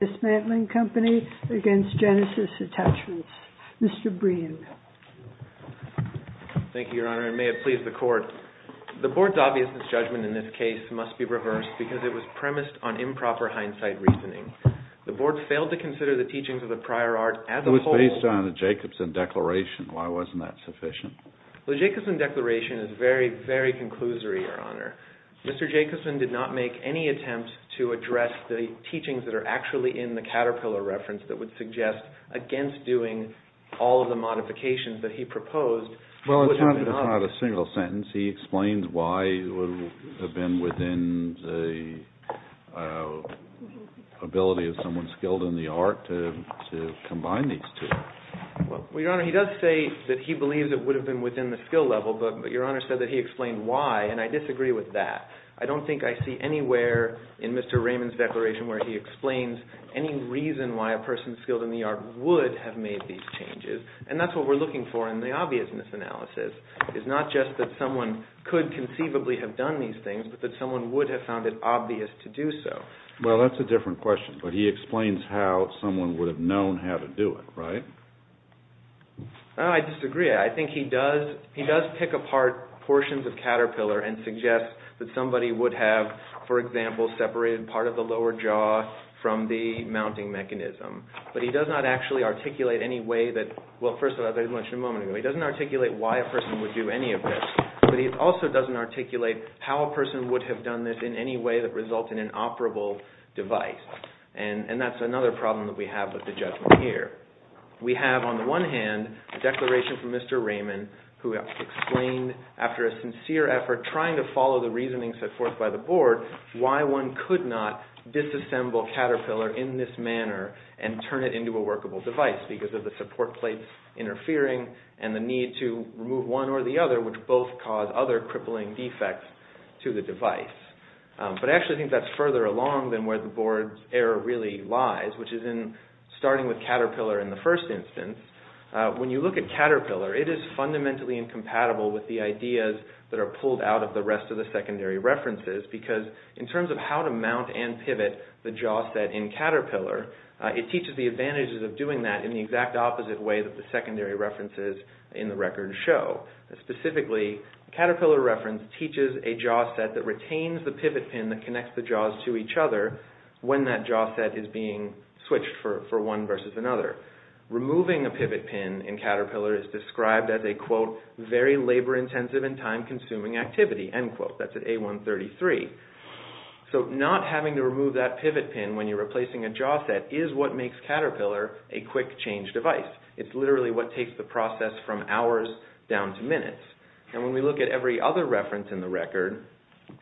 The Board's obviousness judgment in this case must be reversed, because it was premised on improper hindsight reasoning. The Board failed to consider the teachings of the prior art as a whole. It was based on the Jacobson Declaration. Why wasn't that sufficient? The Jacobson Declaration is very, very conclusory, Your Honor. Mr. Jacobson did not make any in the Caterpillar reference that would suggest against doing all of the modifications that he proposed. Well, it's not a single sentence. He explains why it would have been within the ability of someone skilled in the art to combine these two. Well, Your Honor, he does say that he believes it would have been within the skill level, but Your Honor said that he explained why, and I disagree with that. I don't think I see anywhere in Mr. Raymond's declaration where he explains any reason why a person skilled in the art would have made these changes, and that's what we're looking for in the obviousness analysis, is not just that someone could conceivably have done these things, but that someone would have found it obvious to do so. Well, that's a different question, but he explains how someone would have known how to do it, right? I disagree. I think he does pick apart portions of Caterpillar and suggest that somebody would have, for example, separated part of the lower jaw from the mounting mechanism, but he does not actually articulate any way that – well, first of all, as I mentioned a moment ago, he doesn't articulate why a person would do any of this, but he also doesn't articulate how a person would have done this in any way that results in an operable device, and that's another problem that we have with the judgment here. We have, on the one hand, a declaration from Mr. Raymond who has explained after a sincere effort trying to follow the reasoning set forth by the board why one could not disassemble Caterpillar in this manner and turn it into a workable device, because of the support plates interfering and the need to remove one or the other, which both cause other crippling defects to the device. But I actually think that's further along than where the board's error really lies, which is in starting with Caterpillar in the first instance. When you look at Caterpillar, it is fundamentally incompatible with the ideas that are pulled out of the rest of the secondary references, because in terms of how to mount and pivot the jaw set in Caterpillar, it teaches the advantages of doing that in the exact opposite way that the secondary references in the record show. Specifically, Caterpillar reference teaches a jaw set that retains the pivot pin that connects the jaws to each other when that jaw set is being switched for one versus another. Removing a pivot pin in Caterpillar is described as a, quote, very labor intensive and time consuming activity, end quote. That's at A133. So not having to remove that pivot pin when you're replacing a jaw set is what makes Caterpillar a quick change device. It's literally what takes the process from hours down to minutes. And when we look at every other reference in the record,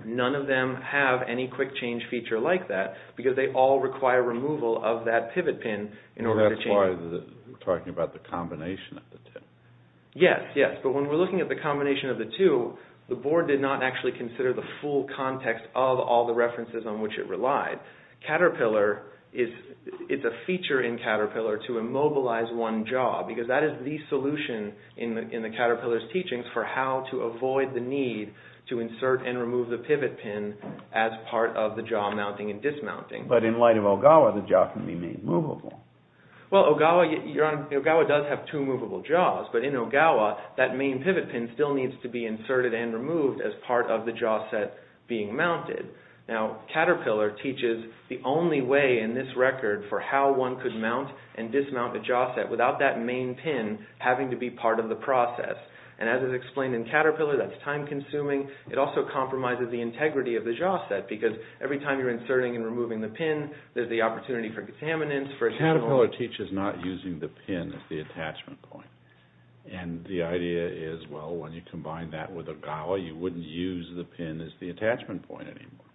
none of them have any quick change feature like that, because they all require removal of that pivot pin in order to change it. And that's why we're talking about the combination of the two. Yes, yes. But when we're looking at the combination of the two, the board did not actually consider the full context of all the references on which it relied. Caterpillar is, it's a feature in Caterpillar to immobilize one jaw, because that is the solution in the Caterpillar's teachings for how to avoid the need to insert and remove the pivot pin as part of the jaw mounting and dismounting. But in light of Ogawa, the jaw can be made movable. Well, Ogawa, Your Honor, Ogawa does have two movable jaws. But in Ogawa, that main pivot pin still needs to be inserted and removed as part of the jaw set being mounted. Now, Caterpillar teaches the only way in this record for how one could mount and dismount the jaw set without that main pin having to be part of the process. And as is explained in Caterpillar, that's time consuming. It also compromises the integrity of the jaw set, because every time you're inserting and removing the pin, there's the opportunity for contaminants, Caterpillar teaches not using the pin as the attachment point. And the idea is, well, when you combine that with Ogawa, you wouldn't use the pin as the attachment point anymore.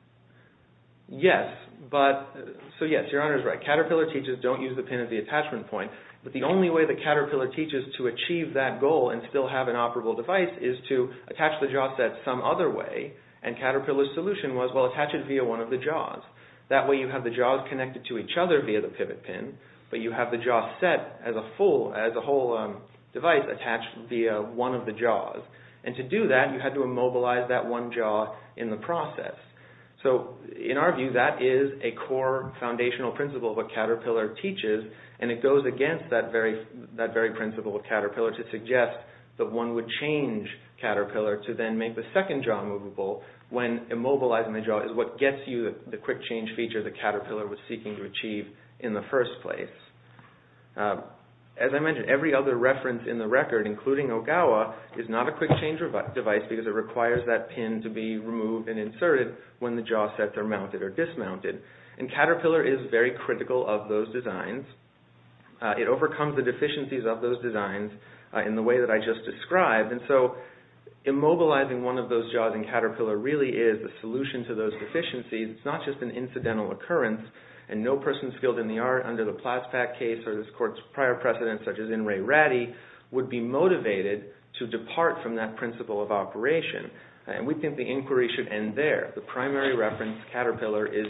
Yes, but, so yes, Your Honor's right. Caterpillar teaches don't use the pin as the attachment point. But the only way that Caterpillar teaches to achieve that goal and still have an operable device is to attach the jaw set some other way. And Caterpillar's solution was, well, you attach one of the jaws. That way you have the jaws connected to each other via the pivot pin, but you have the jaw set as a full, as a whole device attached via one of the jaws. And to do that, you had to immobilize that one jaw in the process. So in our view, that is a core foundational principle of what Caterpillar teaches. And it goes against that very principle of Caterpillar to suggest that one would change Caterpillar to then make the second jaw movable when immobilizing the jaw is what gets you the quick change feature that Caterpillar was seeking to achieve in the first place. As I mentioned, every other reference in the record, including Ogawa, is not a quick change device because it requires that pin to be removed and inserted when the jaw sets are mounted or dismounted. And Caterpillar is very critical of those designs. It overcomes the deficiencies of those designs in the way that I just described. And so immobilizing one of those jaws in Caterpillar really is a solution to those deficiencies. It's not just an incidental occurrence. And no person skilled in the art under the Plaspak case or this court's prior precedents, such as in Ray Ratty, would be motivated to depart from that principle of operation. And we think the inquiry should end there. The primary reference, Caterpillar, is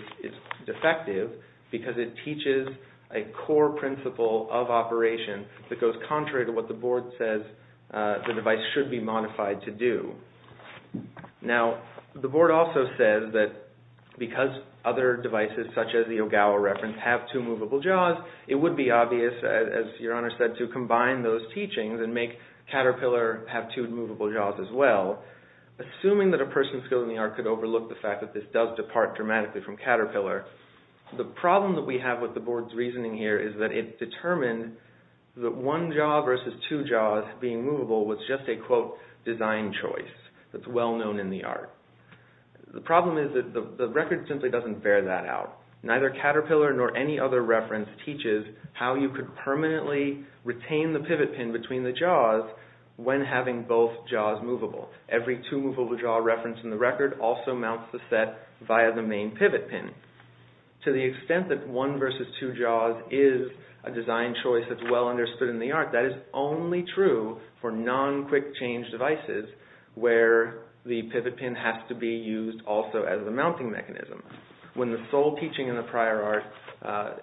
defective because it teaches a core principle of operation that goes contrary to what the board says the device should be modified to do. Now, the board also says that because other devices, such as the Ogawa reference, have two movable jaws, it would be obvious, as Your Honor said, to combine those teachings and make Caterpillar have two movable jaws as well. Assuming that a person skilled in the art could overlook the fact that this does depart dramatically from Caterpillar, the problem that we have with the board's reasoning here is that it determined that one jaw versus two jaws being movable was just a, quote, design choice that's well known in the art. The problem is that the record simply doesn't bear that out. Neither Caterpillar nor any other reference teaches how you could permanently retain the pivot pin between the jaws when having both jaws movable. Every two movable jaw reference in the record also mounts the set via the main pivot pin. To the extent that one versus two jaws is a design choice that's well understood in the art, that is only true for non-quick-change devices where the pivot pin has to be used also as the mounting mechanism. When the sole teaching in the prior art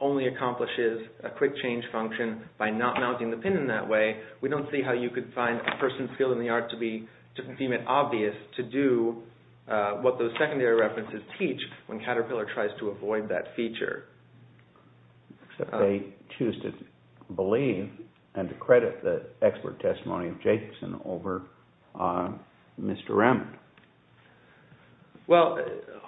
only accomplishes a quick-change function by not mounting the pin in that way, we don't see how you could find a person skilled in the art to deem it obvious to do what those secondary references teach when Caterpillar tries to avoid that feature. They choose to believe and credit the expert testimony of Jacobson over Mr. Raymond. Well,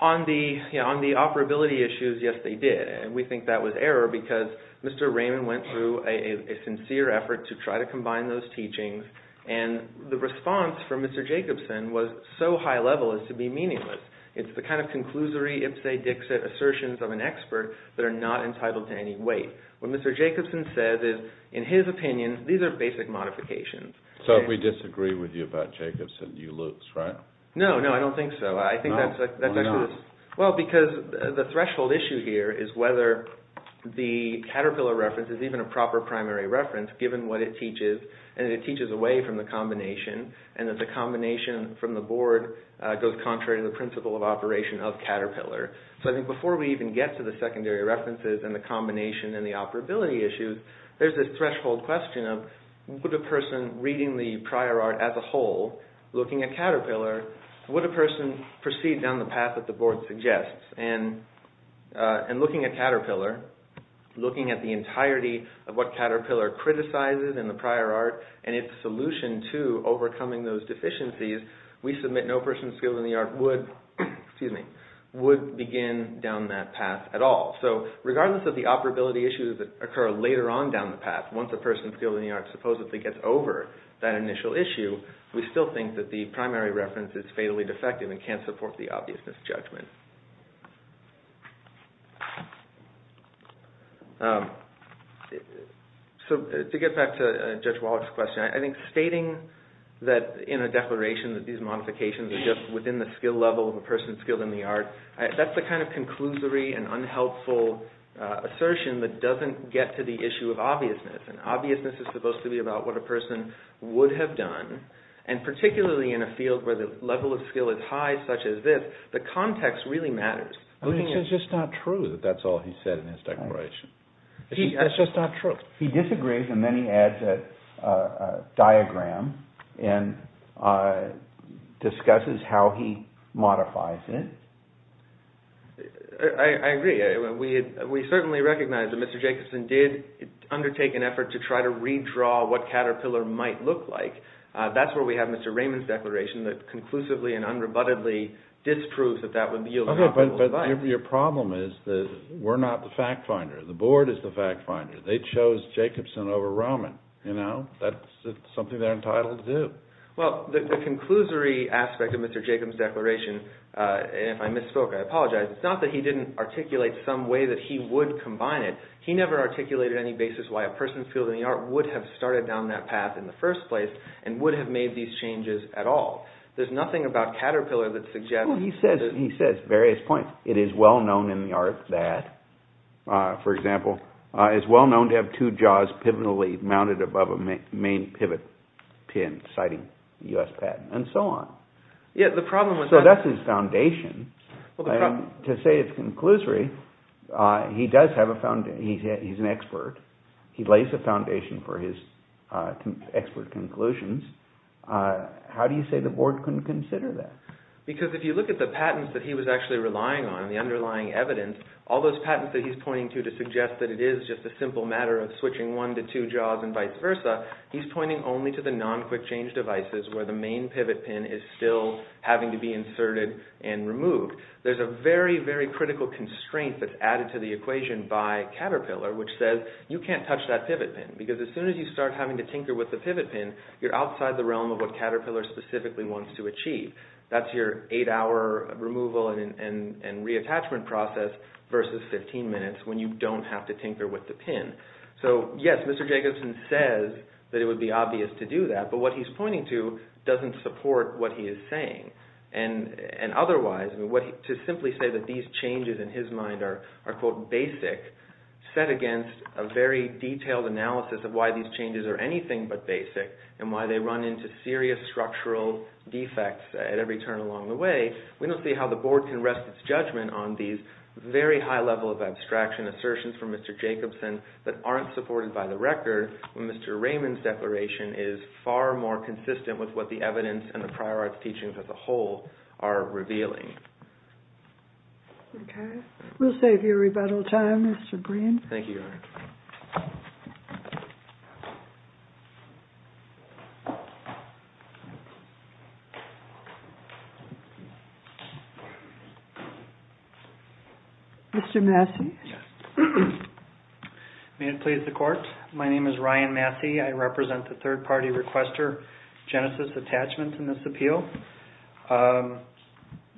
on the operability issues, yes they did. We think that was error because Mr. Jacobson's response was so high-level as to be meaningless. It's the kind of conclusory ipse-dixit assertions of an expert that are not entitled to any weight. What Mr. Jacobson says is, in his opinion, these are basic modifications. So if we disagree with you about Jacobson, you lose, right? No, no, I don't think so. Well, because the threshold issue here is whether the Caterpillar reference is even a proper primary reference given what it teaches, and it teaches away from the combination, and that the combination from the board goes contrary to the principle of operation of Caterpillar. So I think before we even get to the secondary references and the combination and the operability issues, there's this threshold question of, would a person reading the prior art as a whole, looking at Caterpillar, would a person proceed down the path that the board suggests? And looking at Caterpillar, looking at the entirety of what Caterpillar criticizes in the prior art, and its solution to overcoming those deficiencies, we submit no person skilled in the art would begin down that path at all. So regardless of the operability issues that occur later on down the path, once a person skilled in the art supposedly gets over that initial issue, we still think that the primary reference is fatally defective and can't support the obviousness judgment. So to get back to Judge Wallach's question, I think stating that in a declaration that these modifications are just within the skill level of a person skilled in the art, that's the kind of conclusory and unhelpful assertion that doesn't get to the issue of obviousness. And obviousness is supposed to be about what a person would have done, and particularly in a field where the level of skill is high, such as this, the context really matters. It's just not true that that's all he said in his declaration. It's just not true. He disagrees, and then he adds a diagram and discusses how he modifies it. I agree. We certainly recognize that Mr. Jacobson did undertake an effort to try to redraw what Caterpillar might look like. That's where we have Mr. Raymond's declaration that conclusively and unrebuttedly disproves that that would yield an optimal design. Okay, but your problem is that we're not the fact finder. The board is the fact finder. They chose Jacobson over Roman. That's something they're entitled to do. Well, the conclusory aspect of Mr. Jacobson's declaration, and if I misspoke, I apologize, it's not that he didn't articulate some way that he would combine it. He never articulated any basis why a person skilled in the art would have started down that path in the first place, and would have made these changes at all. There's nothing about Caterpillar that suggests… He says various points. It is well known in the art that, for example, it's well known to have two jaws pivotally mounted above a main pivot pin, citing U.S. patent, and so on. So that's his foundation. To say it's conclusory, he does have a foundation. He's an expert. He lays a lot of conclusions. How do you say the board can consider that? Because if you look at the patents that he was actually relying on, the underlying evidence, all those patents that he's pointing to to suggest that it is just a simple matter of switching one to two jaws and vice versa, he's pointing only to the non-quick change devices where the main pivot pin is still having to be inserted and removed. There's a very, very critical constraint that's added to the equation by Caterpillar, which says you can't touch that pivot pin, because as soon as you start having to tinker with the pivot pin, you're outside the realm of what Caterpillar specifically wants to achieve. That's your eight-hour removal and reattachment process versus 15 minutes when you don't have to tinker with the pin. So yes, Mr. Jacobson says that it would be obvious to do that, but what he's pointing to doesn't support what he is saying. And otherwise, to simply say that these changes in his mind are, quote, basic, set against a very detailed analysis of why these are anything but basic, and why they run into serious structural defects at every turn along the way, we don't see how the board can rest its judgment on these very high level of abstraction assertions from Mr. Jacobson that aren't supported by the record, when Mr. Raymond's declaration is far more consistent with what the evidence and the prior arts teachings as a whole are revealing. Okay. We'll save you rebuttal time, Mr. Green. Thank you, Your Honor. Mr. Massey. Yes. May it please the Court. My name is Ryan Massey. I represent the third-party requester, Genesis Attachments, in this appeal.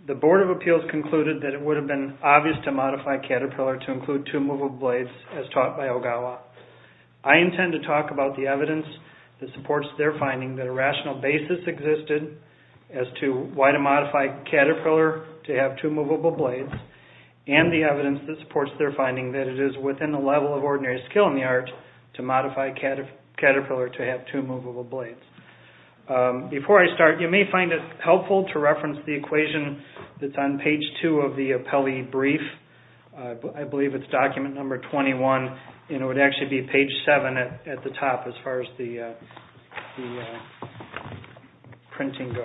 The Board of Appeals concluded that it would have been obvious to modify Caterpillar to include two movable blades, as taught by Ogawa. I intend to talk about the evidence that supports their finding that a rational basis existed as to why to modify Caterpillar to have two movable blades, and the evidence that supports their finding that it is within the level of ordinary skill in the art to modify Caterpillar to have two movable blades. Before I start, you may find it helpful to reference the equation that's on page 2 of the appellee brief. I believe it's document number 21, and it would actually be page 7 at the top, as far as the printing goes.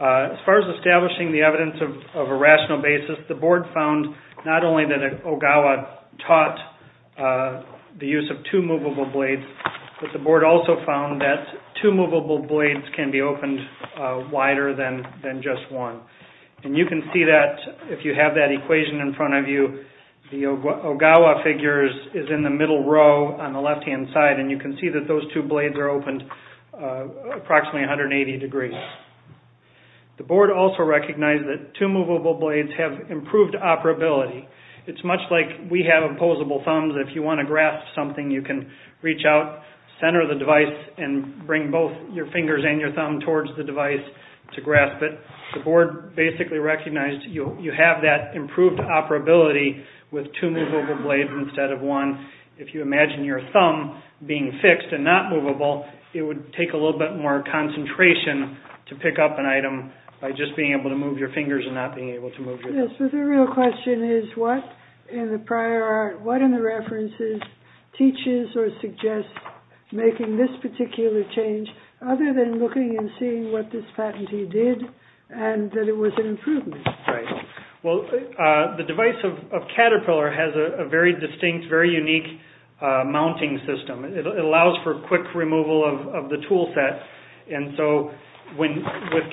As far as establishing the evidence of a rational basis, the Board found not only that Ogawa taught the use of two movable blades, but the Board also found that two movable blades can be opened wider than just one. And you can see that if you have that equation in front of you, the Ogawa figures is in the middle row on the left-hand side, and you can see that those two blades are opened approximately 180 degrees. The Board also recognized that two movable blades have improved operability. It's much like we have opposable thumbs. If you want to grasp something, you can reach out, center the device, and bring both your fingers and your thumb towards the device to grasp it. The Board basically recognized you have that improved operability with two movable blades instead of one. If you imagine your thumb being fixed and not movable, it would take a little bit more concentration to pick up an item by just being able to move your thumb. The question is, what in the prior art, what in the references, teaches or suggests making this particular change, other than looking and seeing what this patentee did, and that it was an improvement? Right. Well, the device of Caterpillar has a very distinct, very unique mounting system. It allows for quick removal of the tool set, and so with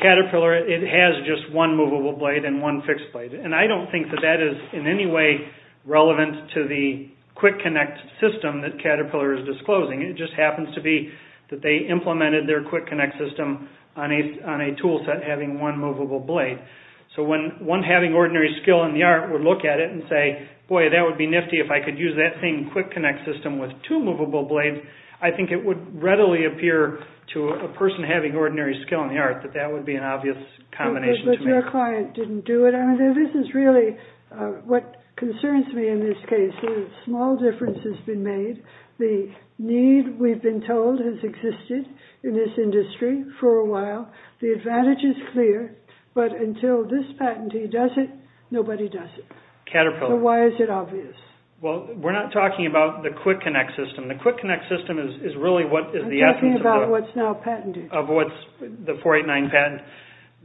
Caterpillar, it has just one movable blade and one fixed blade, and I don't think that that is in any way relevant to the Quick Connect system that Caterpillar is disclosing. It just happens to be that they implemented their Quick Connect system on a tool set having one movable blade. So when one having ordinary skill in the art would look at it and say, boy, that would be nifty if I could use that same Quick Connect system with two movable blades, I think it would readily appear to a person having ordinary skill in the art that that would be an obvious combination to make. But your client didn't do it. I mean, this is really what concerns me in this case. A small difference has been made. The need, we've been told, has existed in this industry for a while. The advantage is clear, but until this patentee does it, nobody does it. Caterpillar. So why is it obvious? Well, we're not talking about the Quick Connect system. The Quick Connect system is a 489 patent.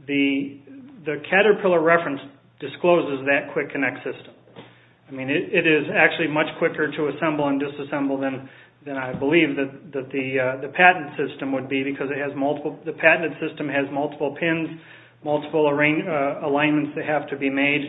The Caterpillar reference discloses that Quick Connect system. I mean, it is actually much quicker to assemble and disassemble than I believe that the patent system would be because it has multiple, the patented system has multiple pins, multiple arrangements, alignments that have to be made.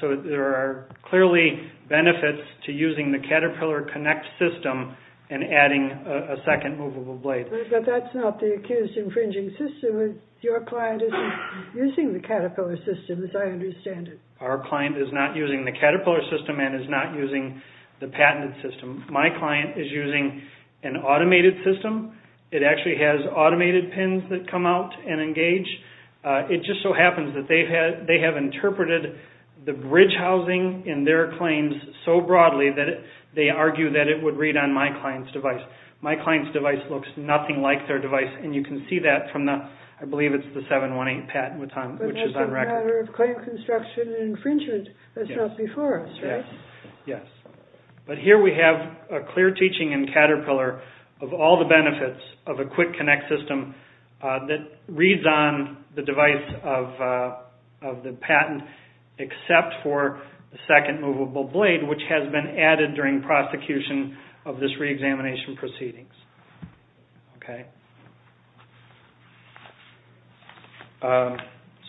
So there are clearly benefits to using the Caterpillar Connect system and adding a second movable blade. But that's not the accused infringing system. Your client isn't using the Caterpillar system as I understand it. Our client is not using the Caterpillar system and is not using the patented system. My client is using an automated system. It actually has automated pins that come out and engage. It just so happens that they have interpreted the bridge that it would read on my client's device. My client's device looks nothing like their device and you can see that from the, I believe it's the 718 patent which is on record. But that's a matter of claim construction infringement. That's not before us, right? Yes. But here we have a clear teaching in Caterpillar of all the benefits of a Quick Connect system that reads on the device of the patent except for the second movable blade which has been added during prosecution of this re-examination proceedings. Okay.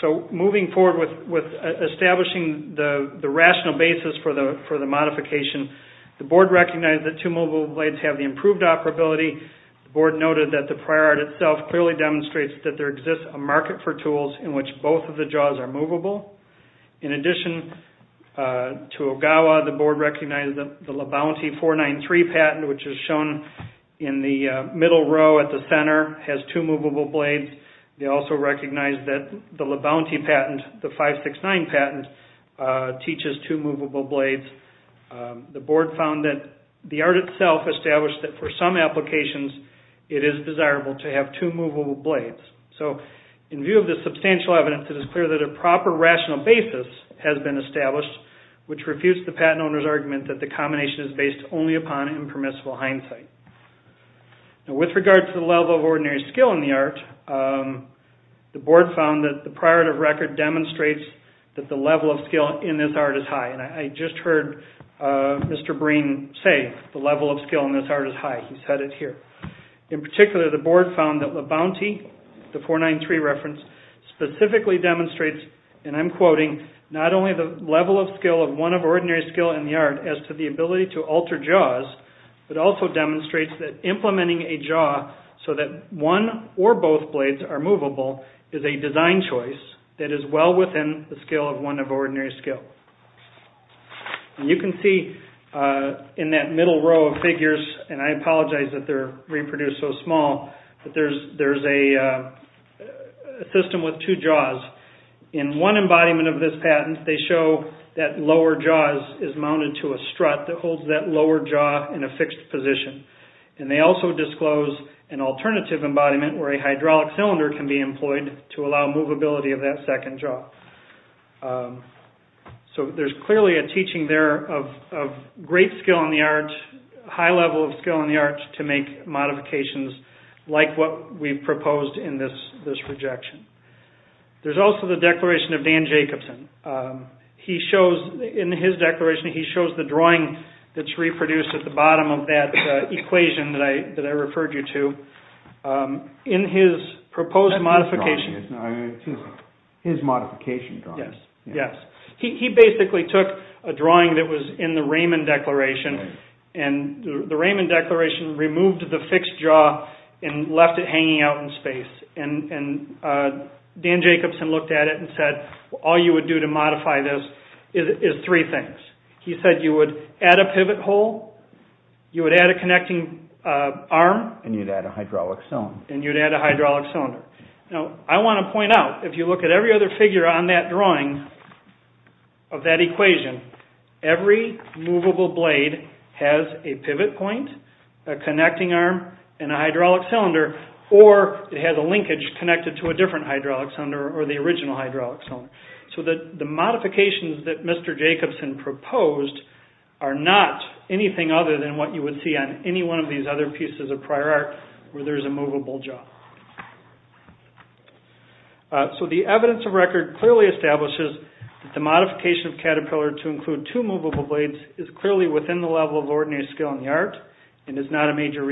So moving forward with establishing the rational basis for the modification, the board recognized that two movable blades have the improved operability. The board noted that the market for tools in which both of the jaws are movable. In addition to Ogawa, the board recognized that the LeBounty 493 patent which is shown in the middle row at the center has two movable blades. They also recognized that the LeBounty patent, the 569 patent, teaches two movable blades. The board found that the art itself established that for some applications it is desirable to have two movable blades. So in view of the substantial evidence, it is clear that a proper rational basis has been established which refutes the patent owner's argument that the combination is based only upon impermissible hindsight. Now with regard to the level of ordinary skill in the art, the board found that the priority of record demonstrates that the level of skill in this art is high. I just heard Mr. Breen say the level of skill in this art is high. He said it here. In particular, the board found that LeBounty, the 493 reference, specifically demonstrates, and I'm quoting, not only the level of skill of one of ordinary skill in the art as to the ability to alter jaws, but also demonstrates that implementing a jaw so that one or both blades are movable is a design choice that is well within the skill of one of ordinary skill. You can see in that middle row of figures, and I apologize that they're reproduced so small, that there's a system with two jaws. In one embodiment of this patent, they show that lower jaw is mounted to a strut that holds that lower jaw in a fixed position. And they also disclose an alternative embodiment where a hydraulic cylinder can be employed to allow movability of that second jaw. So there's clearly a teaching there of great skill in the art, high level of skill in the art to make modifications like what we've proposed in this projection. There's also the declaration of Dan Jacobson. In his declaration, he shows the proposed modification. His modification drawings. Yes. He basically took a drawing that was in the Raymond Declaration, and the Raymond Declaration removed the fixed jaw and left it hanging out in space. And Dan Jacobson looked at it and said, all you would do to modify this is three things. He said you would add a pivot hole, you would add a connecting arm. And you'd add a hydraulic cylinder. And you'd add a hydraulic cylinder. Now, I want to point out, if you look at every other figure on that drawing of that equation, every movable blade has a pivot point, a So the modifications that Mr. Jacobson proposed are not anything other than what you would see on any one of these other pieces of prior art where there's a movable jaw. So the evidence of record clearly establishes that the modification of Caterpillar to include two movable blades is clearly within the level of ordinary skill in the art and is not a major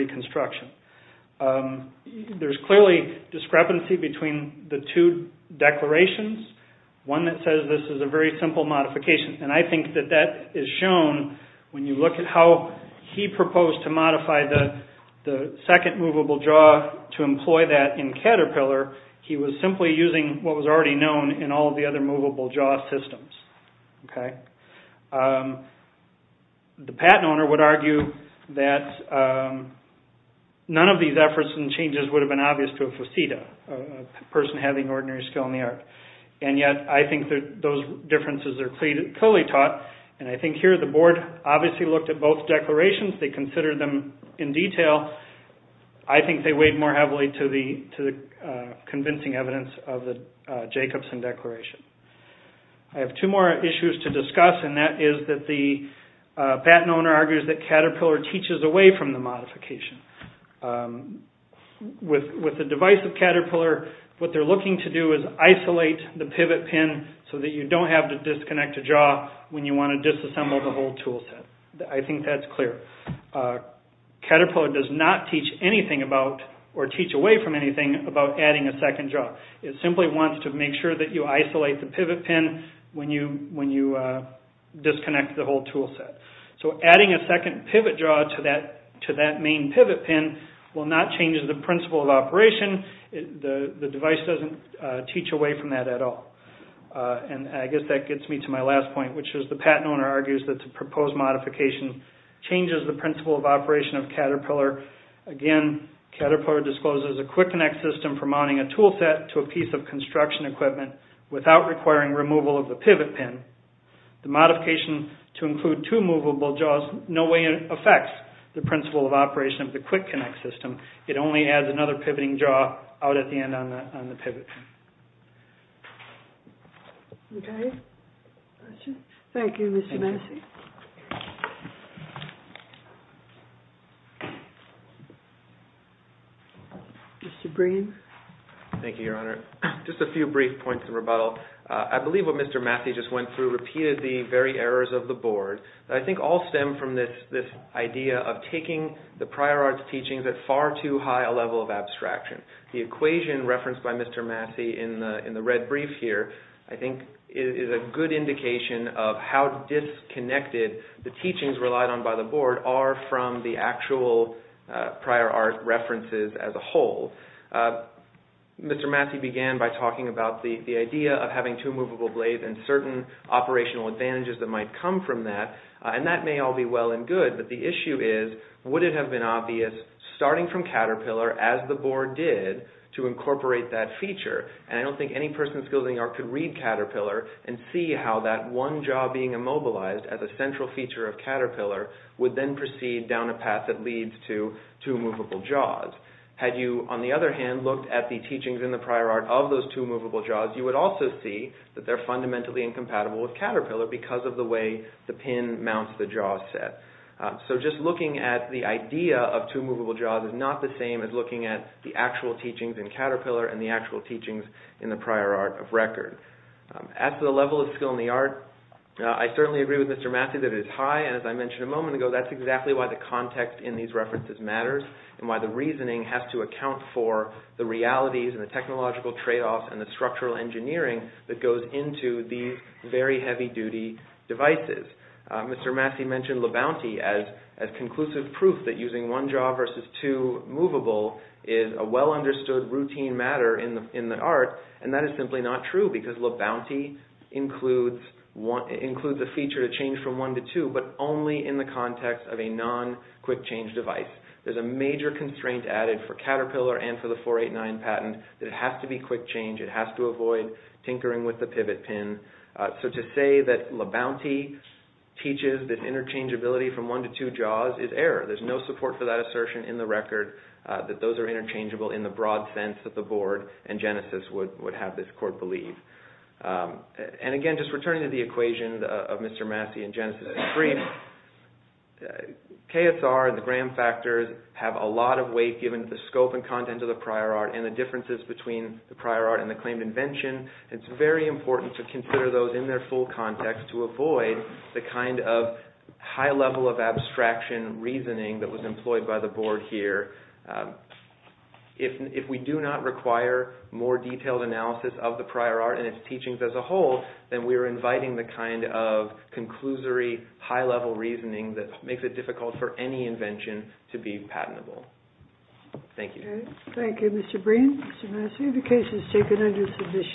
There's clearly discrepancy between the two declarations. One that says this is a very simple modification, and I think that that is shown when you look at how he proposed to modify the second movable jaw to employ that in Caterpillar. He was simply using what was already known in all the other movable jaw systems. The patent owner would argue that none of these efforts and changes would have been obvious to a faceta, a person having ordinary skill in the art. And yet, I think those differences are clearly taught, and I think here the board obviously looked at both declarations, they considered them in detail. I think they weighed more heavily to the convincing evidence of the Jacobson declaration. I have two more issues to discuss, and that is that the patent owner argues that Caterpillar teaches away from the modification. With the device of Caterpillar, what they're looking to do is isolate the pivot pin so that you don't have to disconnect a jaw when you want to disassemble the whole tool set. I think that's clear. Caterpillar does not teach anything about, or teach away from anything about adding a second jaw. It simply wants to make sure that you isolate the pivot pin when you disconnect the whole tool set. So adding a second pivot jaw to that main pivot pin will not change the principle of operation. The device doesn't teach away from that at all. And I guess that gets me to my last point, which is the patent owner argues that the proposed modification changes the principle of operation of Caterpillar. Again, Caterpillar discloses a quick connect system for mounting a tool set to a piece of construction equipment without requiring removal of the pivot pin. The modification to include two movable jaws in no way affects the principle of operation of the quick connect system. It only adds another pivoting jaw out at the end on the pivot pin. Okay. Thank you, Mr. Massey. Mr. Breen. Thank you, Your Honor. Just a few brief points of rebuttal. I believe what Mr. Massey just went through repeated the very errors of the board. I think all stem from this idea of taking the prior arts teachings at far too high a level of abstraction. The equation referenced by Mr. Massey in the red brief here I think is a good indication of how disconnected the teachings relied on by the board are from the actual prior art references as a whole. Mr. Massey began by talking about the idea of having two movable blades and certain operational advantages that might come from that. And that may all be well and good, but the issue is would it have been obvious starting from Caterpillar as the board did to incorporate that feature? And I don't think any person skilled in the art could read Caterpillar and see how that one jaw being immobilized as a central feature of Caterpillar would then proceed down a path that leads to two movable jaws. Had you, on the other hand, looked at the teachings in the prior art of those two movable jaws, you would also see that they're fundamentally incompatible with Caterpillar because of the way the pin mounts the jaw set. So just looking at the idea of two movable jaws is not the same as looking at the actual teachings in Caterpillar and the actual teachings in the prior art of record. At the level of skill in the art, I certainly agree with Mr. Massey that it is high, and as I mentioned a moment ago, that's exactly why the context in these references matters and why the reasoning has to account for the realities and the technological tradeoffs and the structural engineering that goes into these very heavy-duty devices. Mr. Massey mentioned LaBounty as conclusive proof that using one jaw versus two movable is a well-understood routine matter in the art, and that is simply not true because LaBounty includes a feature to change from one to two, but only in the context of a non-quick-change device. There's a major constraint added for Caterpillar and for the 489 patent that it has to be quick change. It has to avoid tinkering with the pivot pin. So to say that LaBounty teaches that interchangeability from one to two jaws is error. There's no support for that assertion in the record that those are interchangeable in the broad sense that the board and Genesis would have this court believe. And again, just returning to the equation of Mr. Massey and Genesis' agreement, KSR and the Graham factors have a lot of weight given to the scope and content of the prior art and the differences between the prior art and the claimed invention. It's very important to consider those in their full context to avoid the kind of high-level of abstraction reasoning that was employed by the board here. If we do not require more detailed analysis of the prior art and its teachings as a whole, then we are inviting the kind of conclusory, high-level reasoning that makes it difficult for any invention to be patentable. Thank you. Thank you, Mr. Breen. Mr. Massey, the case is taken under submission.